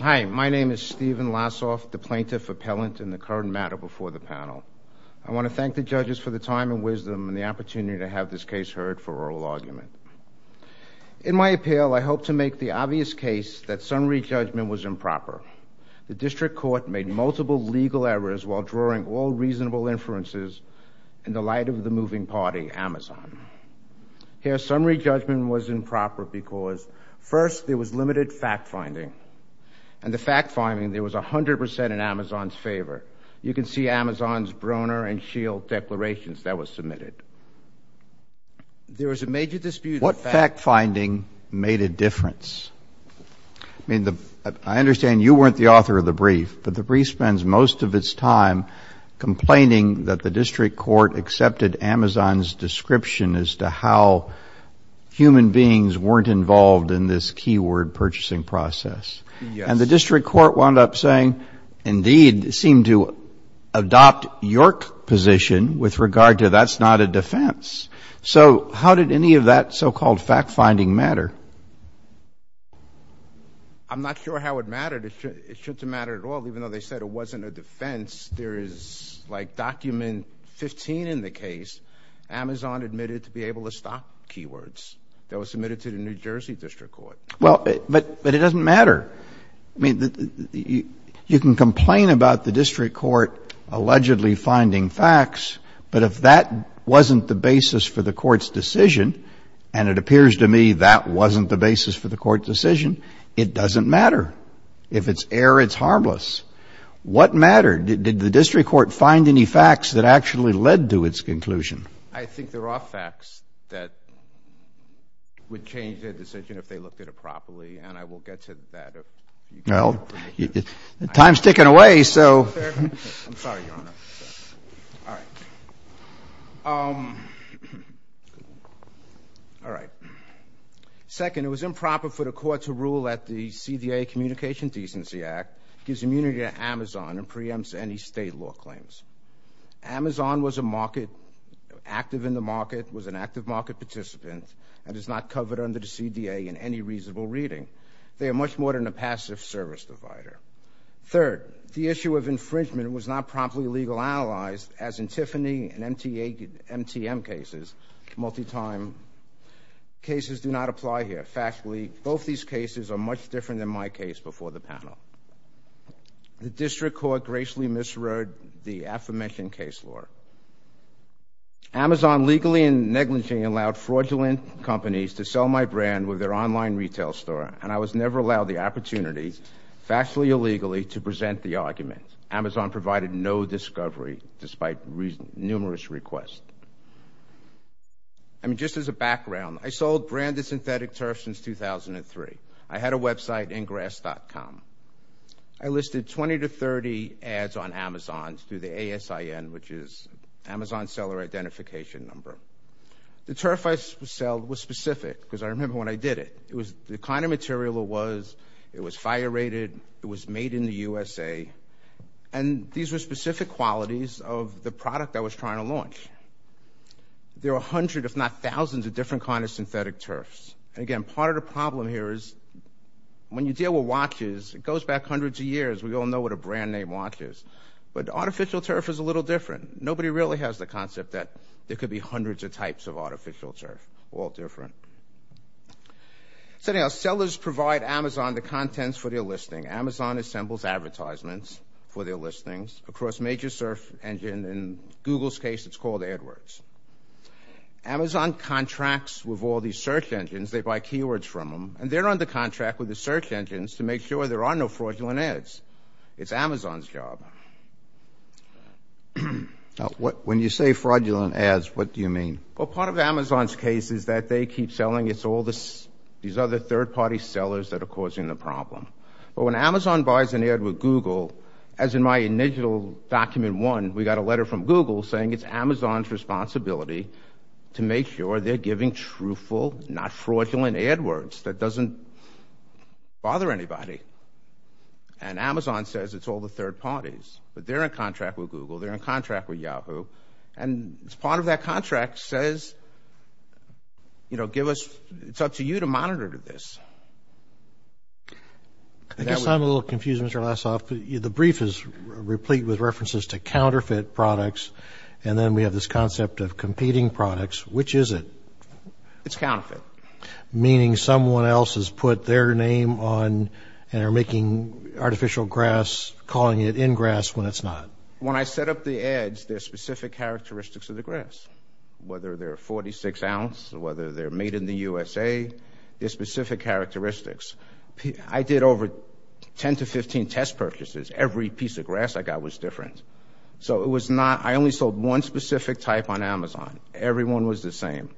Hi, my name is Stephen Lasoff, the Plaintiff Appellant in the current matter before the panel. I want to thank the judges for the time and wisdom and the opportunity to have this case heard for oral argument. In my appeal, I hope to make the obvious case that summary judgment was improper. The District Court made multiple legal errors while drawing all reasonable inferences in the light of the moving party, Amazon. Here, summary judgment was improper because, first, there was limited fact-finding. And the fact-finding, there was 100 percent in Amazon's favor. You can see Amazon's Broner and Shield declarations that were submitted. There was a major dispute. What fact-finding made a difference? I mean, I understand you weren't the author of the brief, but the brief spends most of its time complaining that the District Court accepted Amazon's description as to how human beings weren't involved in this keyword purchasing process. And the District Court wound up saying, indeed, seemed to adopt York's position with regard to that's not a defense. So how did any of that so-called fact-finding matter? I'm not sure how it mattered. It shouldn't matter at all, even though they said it wasn't a defense. There is, like, document 15 in the case, Amazon admitted to be able to stop keywords that were submitted to the New Jersey District Court. Well, but it doesn't matter. I mean, you can complain about the District Court allegedly finding facts, but if that wasn't the basis for the Court's decision, and it appears to me that wasn't the basis for the Court's decision, it doesn't matter. If it's error, it's harmless. What mattered? Did the District Court find any facts that actually led to its conclusion? I think there are facts that would change their decision if they looked at it properly, and I will get to that. Well, time's ticking away, so. I'm sorry, Your Honor. All right. All right. Second, it was improper for the Court to rule that the CDA Communication Decency Act gives immunity to Amazon and preempts any state law claims. Amazon was a market, active in the market, was an active market participant, and is not covered under the CDA in any reasonable reading. They are much more than a passive service divider. Third, the issue of infringement was not promptly legalized, as in Tiffany and MTM cases, multi-time cases do not apply here. Factually, both these cases are much different than my case before the panel. The District Court graciously misread the aforementioned case law. Amazon legally and negligently allowed fraudulent companies to sell my brand with their online retail store, and I was never allowed the opportunity, factually or legally, to present the argument. Amazon provided no discovery, despite numerous requests. I mean, just as a background, I sold branded synthetic turf since 2003. I had a website, ingrass.com. I listed 20 to 30 ads on Amazon through the ASIN, which is Amazon Seller Identification Number. The turf I sold was specific, because I remember when I did it. It was the kind of material it was. It was fire-rated. It was made in the USA. And these were specific qualities of the product I was trying to launch. There are hundreds, if not thousands, of different kinds of synthetic turfs. Again, part of the problem here is when you deal with watches, it goes back hundreds of years. We all know what a brand-name watch is. But artificial turf is a little different. Nobody really has the concept that there could be hundreds of types of artificial turf. All different. So, now, sellers provide Amazon the contents for their listing. Amazon assembles advertisements for their listings across major surf engines. In Google's case, it's called AdWords. Amazon contracts with all these search engines. They buy keywords from them. And they're on the contract with the search engines to make sure there are no fraudulent ads. It's Amazon's job. Now, when you say fraudulent ads, what do you mean? Well, part of Amazon's case is that they keep selling. It's all these other third-party sellers that are causing the problem. But when Amazon buys an ad with Google, as in my initial document one, we got a letter from Google saying it's Amazon's responsibility to make sure they're giving truthful, not fraudulent ad words that doesn't bother anybody. And Amazon says it's all the third parties. But they're in contract with Google. They're in contract with Yahoo. And part of that contract says, you know, give us – it's up to you to monitor this. I guess I'm a little confused, Mr. Lassoff. The brief is replete with references to counterfeit products. And then we have this concept of competing products. Which is it? It's counterfeit. Meaning someone else has put their name on and are making artificial grass, calling it in-grass when it's not. When I set up the ads, there are specific characteristics of the grass, whether they're 46-ounce or whether they're made in the USA. There are specific characteristics. I did over 10 to 15 test purchases. Every piece of grass I got was different. So it was not – I only sold one specific type on Amazon. Everyone was the same.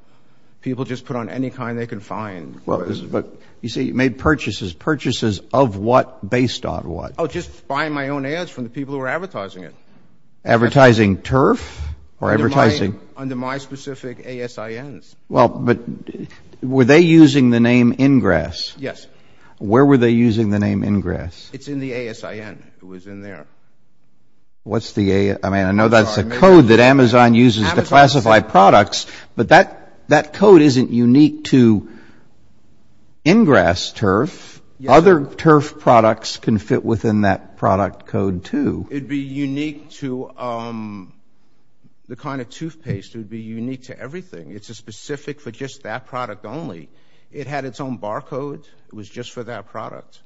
People just put on any kind they could find. But you say you made purchases. Purchases of what based on what? Oh, just buying my own ads from the people who were advertising it. Advertising turf or advertising – Under my specific ASINs. Well, but were they using the name in-grass? Yes. Where were they using the name in-grass? It's in the ASIN. It was in there. What's the – I mean, I know that's a code that Amazon uses to classify products, but that code isn't unique to in-grass turf. Other turf products can fit within that product code too. It would be unique to the kind of toothpaste. It would be unique to everything. It's specific for just that product only. It had its own barcode. It was just for that product.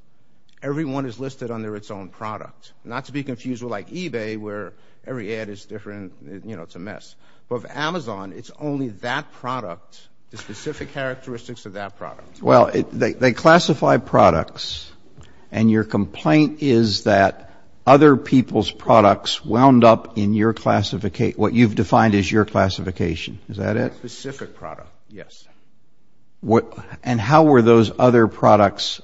Everyone is listed under its own product, not to be confused with, like, eBay where every ad is different. You know, it's a mess. But with Amazon, it's only that product, the specific characteristics of that product. Well, they classify products, and your complaint is that other people's products wound up in your – what you've defined as your classification. Is that it? Specific product, yes. And how were those other products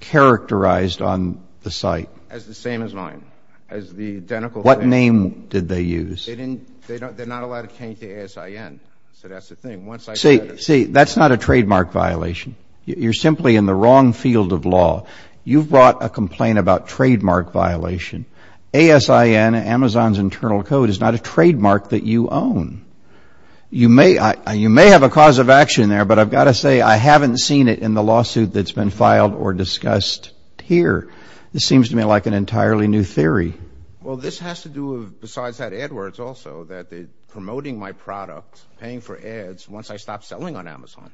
characterized on the site? As the same as mine, as the identical – What name did they use? They didn't – they're not allowed to claim to ASIN. So that's the thing. See, that's not a trademark violation. You're simply in the wrong field of law. You've brought a complaint about trademark violation. ASIN, Amazon's internal code, is not a trademark that you own. You may have a cause of action there, but I've got to say I haven't seen it in the lawsuit that's been filed or discussed here. This seems to me like an entirely new theory. Well, this has to do with, besides that AdWords also, that they're promoting my product, paying for ads, once I stopped selling on Amazon.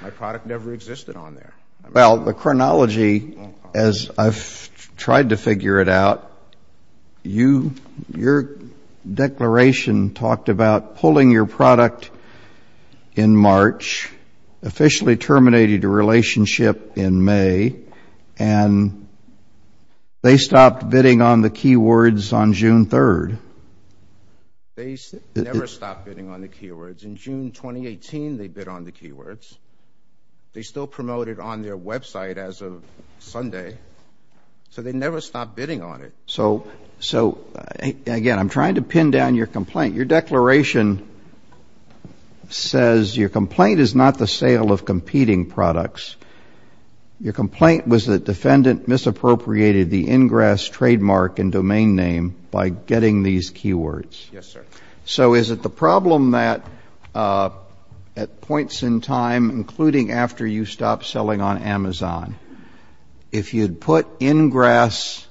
My product never existed on there. Well, the chronology, as I've tried to figure it out, your declaration talked about pulling your product in March, officially terminated a relationship in May, and they stopped bidding on the keywords on June 3rd. They never stopped bidding on the keywords. In June 2018, they bid on the keywords. They still promote it on their website as of Sunday. So they never stopped bidding on it. So, again, I'm trying to pin down your complaint. Your declaration says your complaint is not the sale of competing products. Your complaint was that defendant misappropriated the Ingress trademark and domain name by getting these keywords. Yes, sir. So is it the problem that at points in time, including after you stopped selling on Amazon, if you'd put Ingress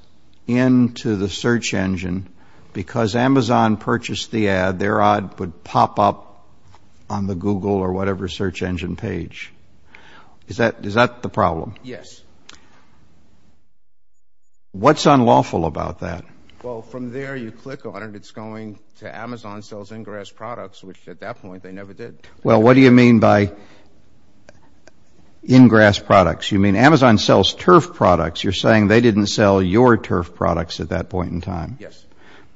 into the search engine, because Amazon purchased the ad, their ad would pop up on the Google or whatever search engine page. Is that the problem? Yes. What's unlawful about that? Well, from there you click on it, it's going to Amazon sells Ingress products, which at that point they never did. Well, what do you mean by Ingress products? You mean Amazon sells turf products. You're saying they didn't sell your turf products at that point in time. Yes.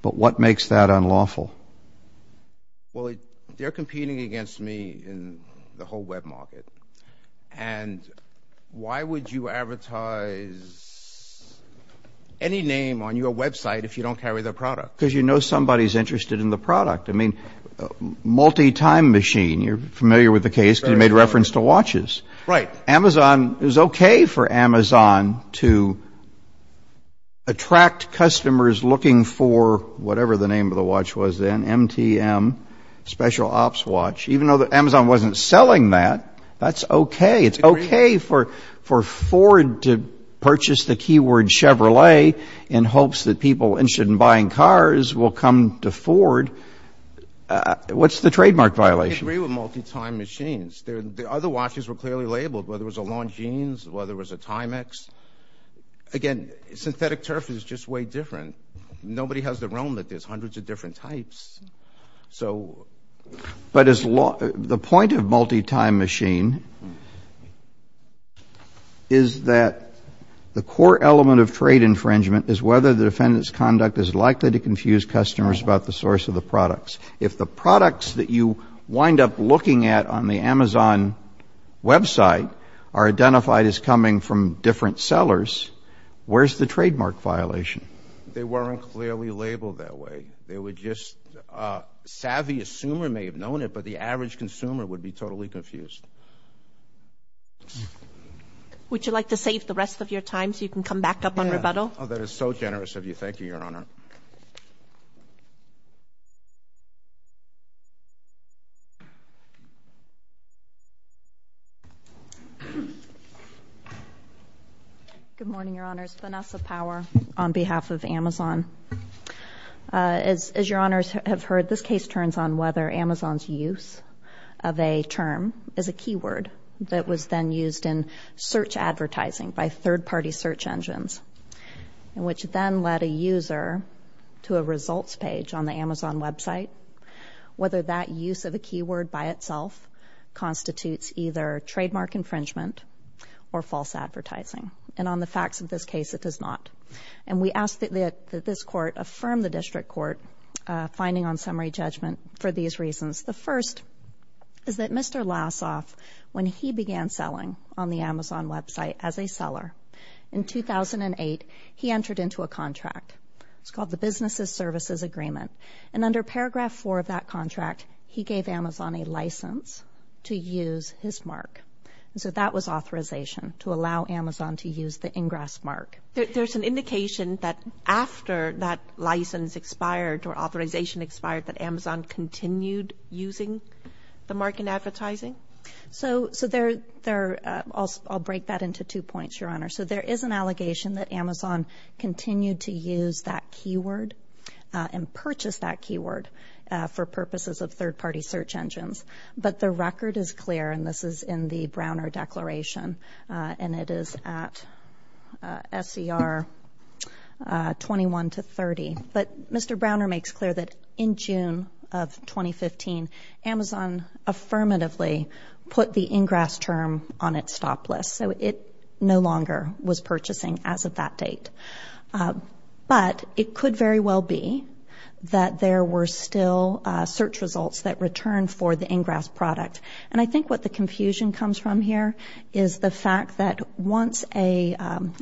But what makes that unlawful? Well, they're competing against me in the whole web market. And why would you advertise any name on your website if you don't carry the product? Because you know somebody's interested in the product. I mean, multi-time machine, you're familiar with the case, because you made reference to watches. Right. It was okay for Amazon to attract customers looking for whatever the name of the watch was then, MTM, special ops watch, even though Amazon wasn't selling that. That's okay. It's okay for Ford to purchase the keyword Chevrolet in hopes that people interested in buying cars will come to Ford. What's the trademark violation? I agree with multi-time machines. The other watches were clearly labeled, whether it was a Longines, whether it was a Timex. Again, synthetic turf is just way different. Nobody has the realm that there's hundreds of different types. But the point of multi-time machine is that the core element of trade infringement is whether the defendant's conduct is likely to confuse customers about the source of the products. If the products that you wind up looking at on the Amazon website are identified as coming from different sellers, where's the trademark violation? They weren't clearly labeled that way. They were just savvy assumer may have known it, but the average consumer would be totally confused. Would you like to save the rest of your time so you can come back up on rebuttal? Oh, that is so generous of you. Thank you, Your Honor. Good morning, Your Honors. Vanessa Power on behalf of Amazon. As Your Honors have heard, this case turns on whether Amazon's use of a term is a keyword that was then used in search advertising by third-party search engines, which then led a user to a results page on the Amazon website, whether that use of a keyword by itself constitutes either trademark infringement or false advertising. And on the facts of this case, it does not. And we ask that this Court affirm the District Court finding on summary judgment for these reasons. The first is that Mr. Lassoff, when he began selling on the Amazon website as a seller, in 2008, he entered into a contract. It's called the Businesses Services Agreement. And under paragraph four of that contract, he gave Amazon a license to use his mark. And so that was authorization to allow Amazon to use the Ingress mark. There's an indication that after that license expired or authorization expired, that Amazon continued using the mark in advertising? I'll break that into two points, Your Honor. So there is an allegation that Amazon continued to use that keyword and purchase that keyword for purposes of third-party search engines. But the record is clear, and this is in the Browner Declaration, and it is at SCR 21-30. But Mr. Browner makes clear that in June of 2015, Amazon affirmatively put the Ingress term on its stop list. So it no longer was purchasing as of that date. But it could very well be that there were still search results that returned for the Ingress product. And I think what the confusion comes from here is the fact that once a,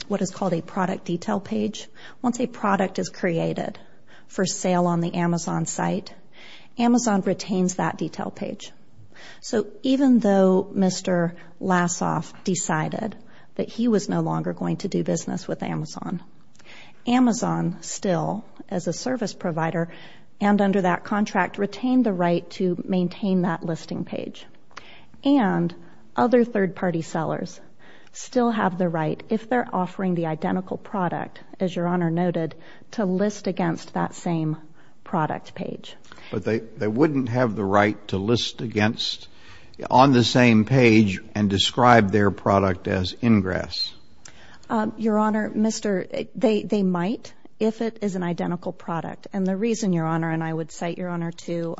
what is called a product detail page, once a product is created for sale on the Amazon site, Amazon retains that detail page. So even though Mr. Lassoff decided that he was no longer going to do business with Amazon, Amazon still, as a service provider and under that contract, retained the right to maintain that listing page. And other third-party sellers still have the right, if they're offering the identical product, as Your Honor noted, to list against that same product page. But they wouldn't have the right to list against, on the same page, and describe their product as Ingress. Your Honor, they might, if it is an identical product. And the reason, Your Honor, and I would cite, Your Honor, to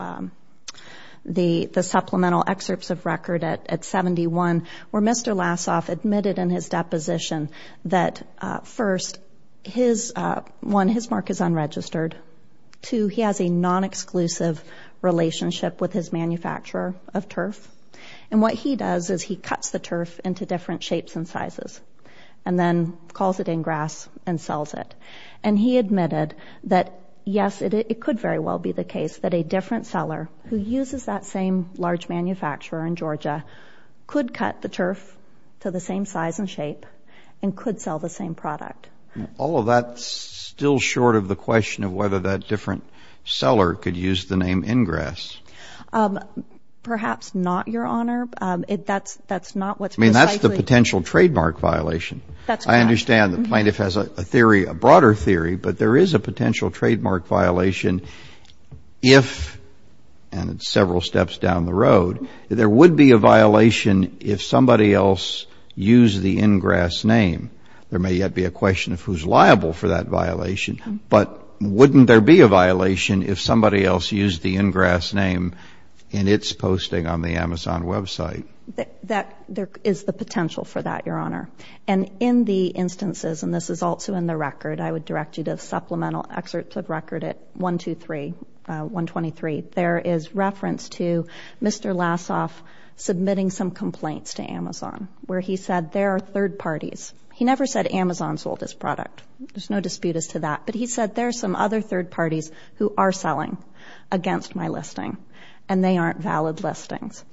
the supplemental excerpts of record at 71, where Mr. Lassoff admitted in his deposition that, first, his, one, his mark is unregistered. Two, he has a non-exclusive relationship with his manufacturer of turf. And what he does is he cuts the turf into different shapes and sizes and then calls it Ingress and sells it. And he admitted that, yes, it could very well be the case that a different seller who uses that same large manufacturer in Georgia could cut the turf to the same size and shape and could sell the same product. All of that's still short of the question of whether that different seller could use the name Ingress. Perhaps not, Your Honor. That's not what's precisely— I mean, that's the potential trademark violation. That's correct. I understand the plaintiff has a theory, a broader theory, but there is a potential trademark violation if, and it's several steps down the road, there would be a violation if somebody else used the Ingress name. There may yet be a question of who's liable for that violation, but wouldn't there be a violation if somebody else used the Ingress name in its posting on the Amazon website? There is the potential for that, Your Honor. And in the instances, and this is also in the record, I would direct you to the supplemental excerpts of record at 123, 123, there is reference to Mr. Lassoff submitting some complaints to Amazon where he said there are third parties. He never said Amazon sold his product. There's no dispute as to that. But he said there are some other third parties who are selling against my listing, and they aren't valid listings.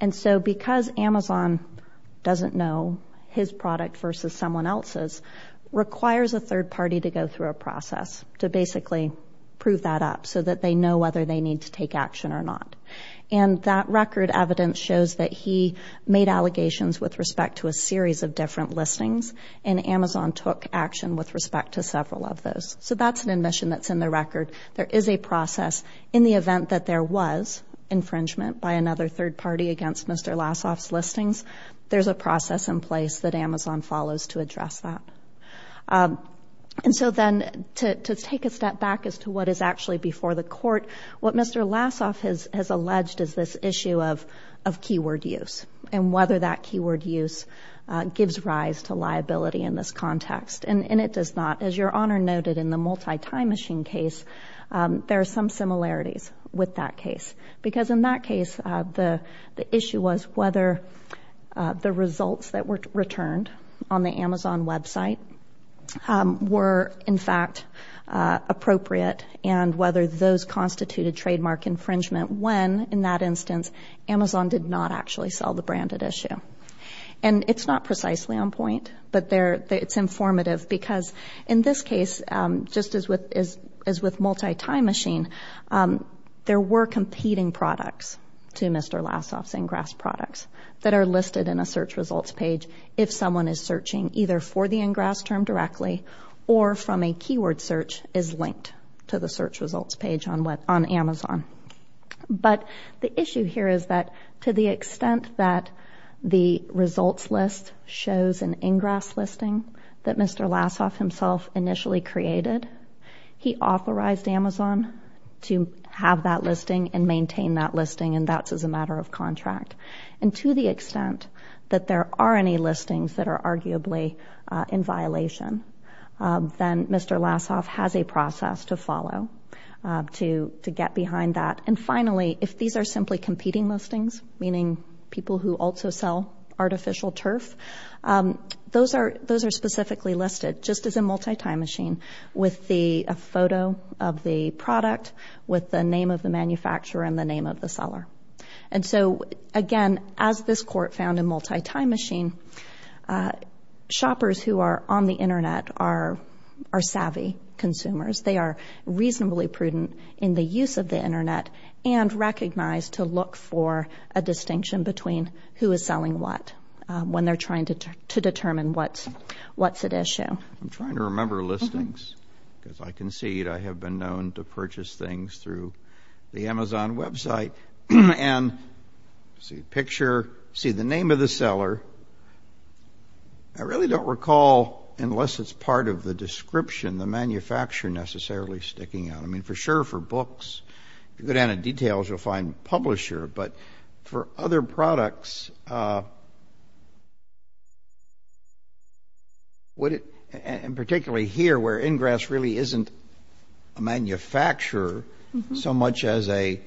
And so because Amazon doesn't know his product versus someone else's, requires a third party to go through a process to basically prove that up so that they know whether they need to take action or not. And that record evidence shows that he made allegations with respect to a series of different listings, and Amazon took action with respect to several of those. So that's an admission that's in the record. There is a process in the event that there was infringement by another third party against Mr. Lassoff's listings. There's a process in place that Amazon follows to address that. And so then to take a step back as to what is actually before the court, what Mr. Lassoff has alleged is this issue of keyword use and whether that keyword use gives rise to liability in this context. And it does not. As Your Honor noted in the multi-time machine case, there are some similarities with that case. Because in that case, the issue was whether the results that were returned on the Amazon website were, in fact, appropriate, and whether those constituted trademark infringement when, in that instance, Amazon did not actually sell the branded issue. And it's not precisely on point, but it's informative because in this case, just as with multi-time machine, there were competing products to Mr. Lassoff's Ingrass products that are listed in a search results page if someone is searching either for the Ingrass term directly or from a keyword search is linked to the search results page on Amazon. But the issue here is that to the extent that the results list shows an Ingrass listing that Mr. Lassoff himself initially created, he authorized Amazon to have that listing and maintain that listing, and that's as a matter of contract. And to the extent that there are any listings that are arguably in violation, then Mr. Lassoff has a process to follow to get behind that. And finally, if these are simply competing listings, meaning people who also sell artificial turf, those are specifically listed just as a multi-time machine with a photo of the product, with the name of the manufacturer, and the name of the seller. And so, again, as this Court found in multi-time machine, shoppers who are on the Internet are savvy consumers. They are reasonably prudent in the use of the Internet and recognize to look for a distinction between who is selling what when they're trying to determine what's at issue. I'm trying to remember listings. As I concede, I have been known to purchase things through the Amazon website. And let's see, picture, see the name of the seller. I really don't recall, unless it's part of the description, the manufacturer necessarily sticking out. I mean, for sure for books, if you go down to details, you'll find publisher. But for other products, and particularly here where Ingress really isn't a manufacturer so much as a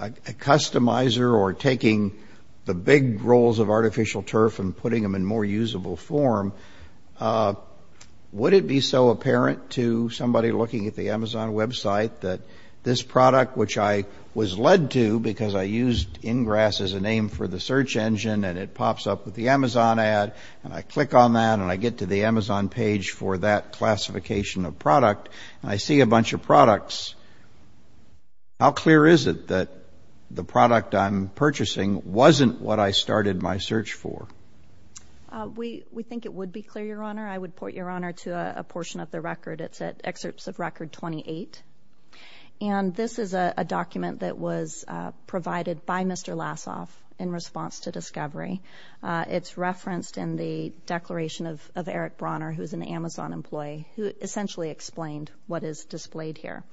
customizer or taking the big rolls of artificial turf and putting them in more usable form, would it be so apparent to somebody looking at the Amazon website that this product, which I was led to because I used Ingress as a name for the search engine and it pops up with the Amazon ad, and I click on that and I get to the Amazon page for that classification of product, and I see a bunch of products, how clear is it that the product I'm purchasing wasn't what I started my search for? We think it would be clear, Your Honor. I would point Your Honor to a portion of the record. It's at Excerpts of Record 28. And this is a document that was provided by Mr. Lassoff in response to discovery. It's referenced in the declaration of Eric Bronner, who is an Amazon employee, who essentially explained what is displayed here.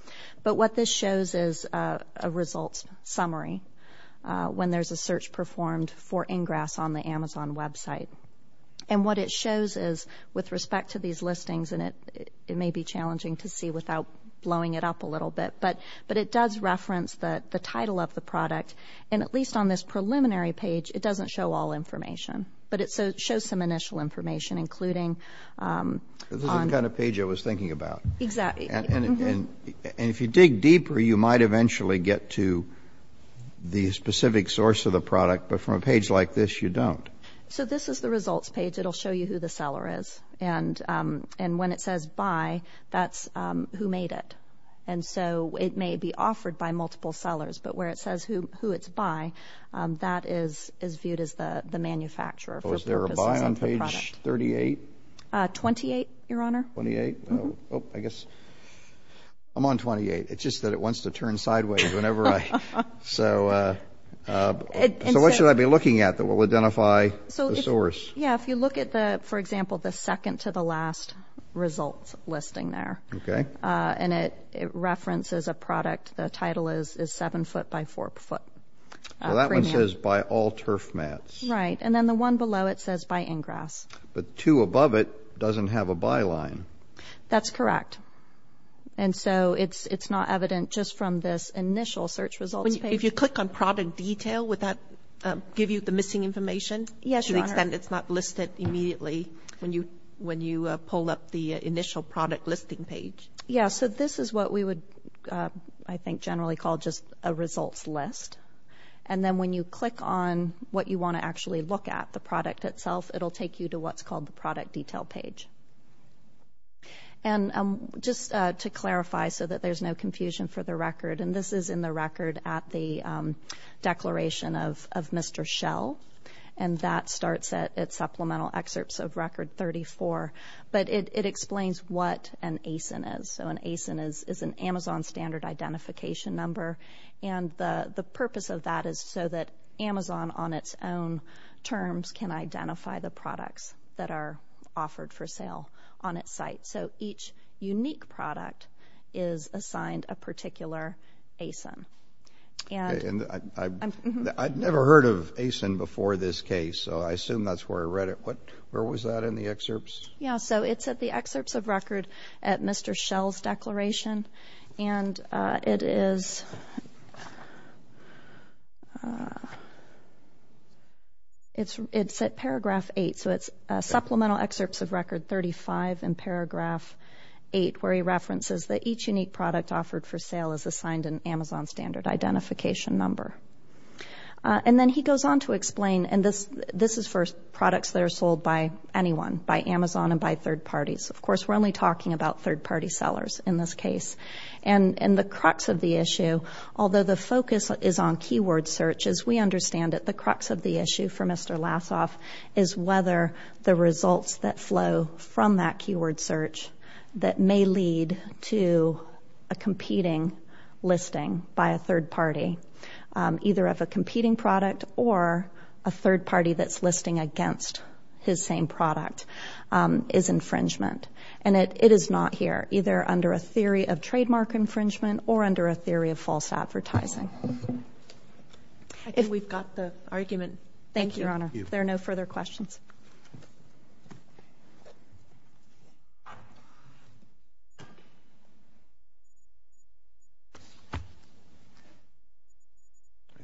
But what this shows is a results summary when there's a search performed for Ingress on the Amazon website. And what it shows is, with respect to these listings, and it may be challenging to see without blowing it up a little bit, but it does reference the title of the product. And at least on this preliminary page, it doesn't show all information. But it shows some initial information, including on- This is the kind of page I was thinking about. Exactly. And if you dig deeper, you might eventually get to the specific source of the product. But from a page like this, you don't. So this is the results page. It will show you who the seller is. And when it says buy, that's who made it. And so it may be offered by multiple sellers. But where it says who it's by, that is viewed as the manufacturer for purposes of the product. Was there a buy on page 38? 28, Your Honor. 28. Oh, I guess. I'm on 28. It's just that it wants to turn sideways whenever I- So what should I be looking at that will identify the source? Yeah, if you look at, for example, the second to the last results listing there. Okay. And it references a product. The title is 7 foot by 4 foot. Well, that one says buy all turf mats. Right. And then the one below it says buy in-grass. But two above it doesn't have a buy line. That's correct. And so it's not evident just from this initial search results page. If you click on product detail, would that give you the missing information? Yes, Your Honor. To the extent it's not listed immediately when you pull up the initial product listing page. Yeah, so this is what we would, I think, generally call just a results list. And then when you click on what you want to actually look at, the product itself, it will take you to what's called the product detail page. And just to clarify so that there's no confusion for the record, and this is in the record at the declaration of Mr. Schell. And that starts at supplemental excerpts of record 34. But it explains what an ASIN is. So an ASIN is an Amazon standard identification number. And the purpose of that is so that Amazon, on its own terms, can identify the products that are offered for sale on its site. So each unique product is assigned a particular ASIN. And I've never heard of ASIN before this case, so I assume that's where I read it. Where was that in the excerpts? Yeah, so it's at the excerpts of record at Mr. Schell's declaration. And it is at paragraph 8. So it's supplemental excerpts of record 35 in paragraph 8, where he references that each unique product offered for sale is assigned an Amazon standard identification number. And then he goes on to explain, and this is for products that are sold by anyone, by Amazon and by third parties. Of course, we're only talking about third-party sellers in this case. And the crux of the issue, although the focus is on keyword searches, we understand that the crux of the issue for Mr. Lassoff is whether the results that flow from that keyword search that may lead to a competing listing by a third party, either of a competing product or a third party that's listing against his same product, is infringement. And it is not here, either under a theory of trademark infringement or under a theory of false advertising. I think we've got the argument. Thank you, Your Honor. If there are no further questions.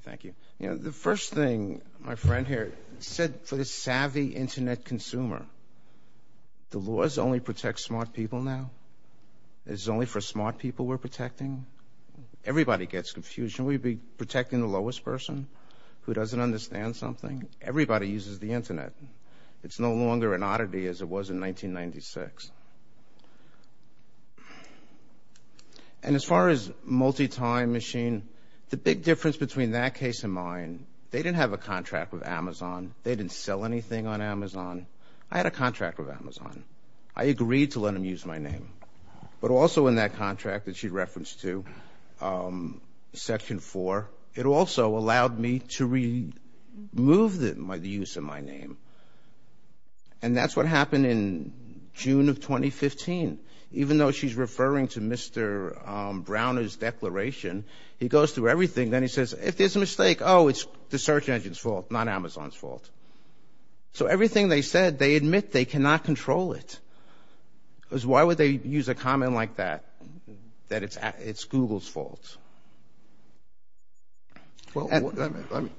Thank you. The first thing my friend here said for the savvy Internet consumer, the laws only protect smart people now? Is it only for smart people we're protecting? Everybody gets confused. Shouldn't we be protecting the lowest person who doesn't understand something? Everybody uses the Internet. It's no longer an oddity as it was in 1996. And as far as multi-time machine, the big difference between that case and mine, they didn't have a contract with Amazon. They didn't sell anything on Amazon. I had a contract with Amazon. I agreed to let them use my name. But also in that contract that she referenced, too, Section 4, it also allowed me to remove the use of my name. And that's what happened in June of 2015. Even though she's referring to Mr. Browner's declaration, he goes through everything. Then he says, if there's a mistake, oh, it's the search engine's fault, not Amazon's fault. So everything they said, they admit they cannot control it. Why would they use a comment like that, that it's Google's fault? I'm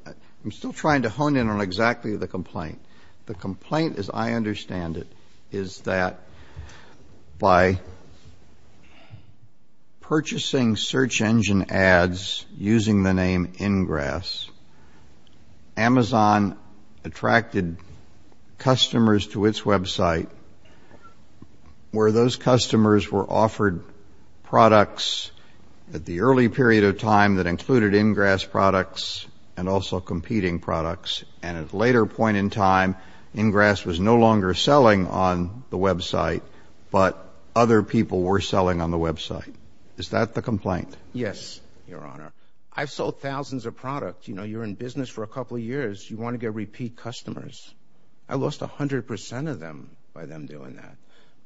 still trying to hone in on exactly the complaint. The complaint, as I understand it, is that by purchasing search engine ads using the name Ingress, Amazon attracted customers to its website where those customers were offered products at the early period of time that included Ingress products and also competing products. And at a later point in time, Ingress was no longer selling on the website, but other people were selling on the website. Is that the complaint? Yes, Your Honor. I've sold thousands of products. You know, you're in business for a couple of years. You want to get repeat customers. I lost 100 percent of them by them doing that.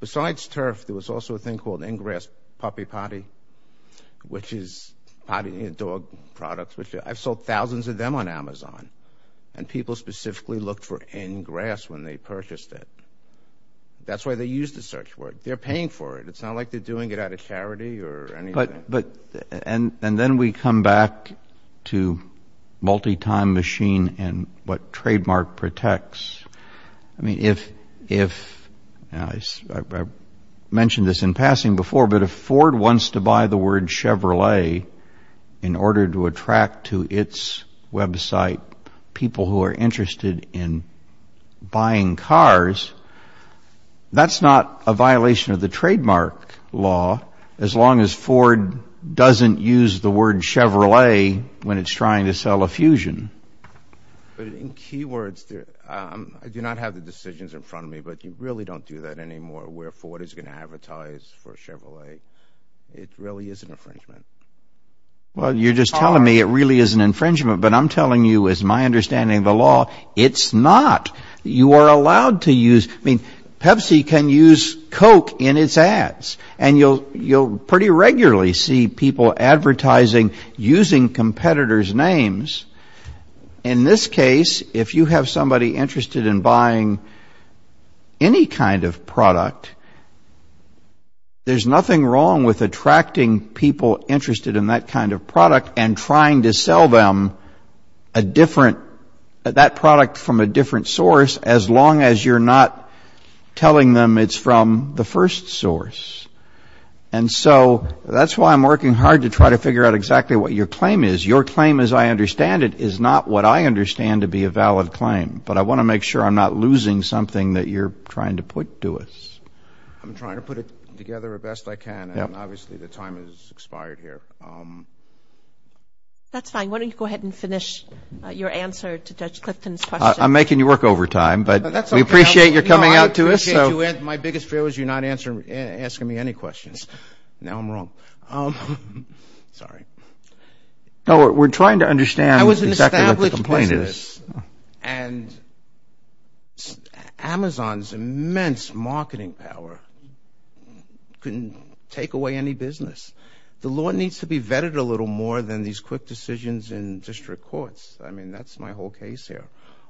Besides Turf, there was also a thing called Ingress Puppy Potty, which is potty dog products. I've sold thousands of them on Amazon, and people specifically looked for Ingress when they purchased it. That's why they used the search word. They're paying for it. It's not like they're doing it out of charity or anything. And then we come back to multi-time machine and what trademark protects. I mean, if I mentioned this in passing before, but if Ford wants to buy the word Chevrolet in order to attract to its website people who are interested in buying cars, that's not a violation of the trademark law as long as Ford doesn't use the word Chevrolet when it's trying to sell a Fusion. But in key words, I do not have the decisions in front of me, but you really don't do that anymore where Ford is going to advertise for Chevrolet. It really is an infringement. Well, you're just telling me it really is an infringement, but I'm telling you as my understanding of the law, it's not. You are allowed to use. I mean, Pepsi can use Coke in its ads, and you'll pretty regularly see people advertising using competitors' names. In this case, if you have somebody interested in buying any kind of product, there's nothing wrong with attracting people interested in that kind of product and trying to sell them a different, that product from a different source as long as you're not telling them it's from the first source. And so that's why I'm working hard to try to figure out exactly what your claim is. Your claim, as I understand it, is not what I understand to be a valid claim, but I want to make sure I'm not losing something that you're trying to put to us. I'm trying to put it together the best I can, and obviously the time has expired here. That's fine. Why don't you go ahead and finish your answer to Judge Clifton's question? I'm making you work overtime, but we appreciate your coming out to us. My biggest fear was you not asking me any questions. Now I'm wrong. Sorry. No, we're trying to understand exactly what the complaint is. And Amazon's immense marketing power couldn't take away any business. The law needs to be vetted a little more than these quick decisions in district courts. I mean, that's my whole case here.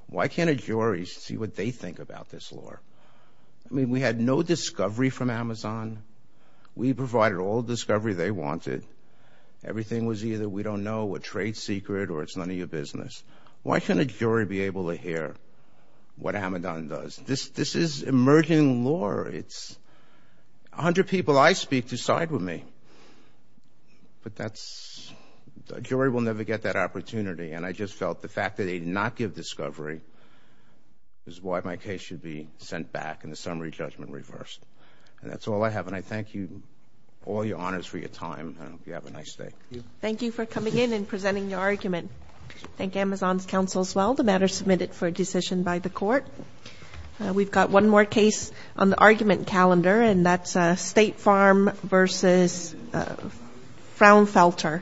Why can't a jury see what they think about this law? I mean, we had no discovery from Amazon. We provided all the discovery they wanted. Everything was either we don't know or trade secret or it's none of your business. Why can't a jury be able to hear what Amazon does? This is emerging law. It's 100 people I speak to side with me. But that's – a jury will never get that opportunity. And I just felt the fact that they did not give discovery is why my case should be sent back and the summary judgment reversed. And that's all I have. And I thank you, all your honors, for your time, and I hope you have a nice day. Thank you for coming in and presenting your argument. Thank Amazon's counsel as well. The matter is submitted for decision by the court. We've got one more case on the argument calendar, and that's State Farm v. Fraunfelter.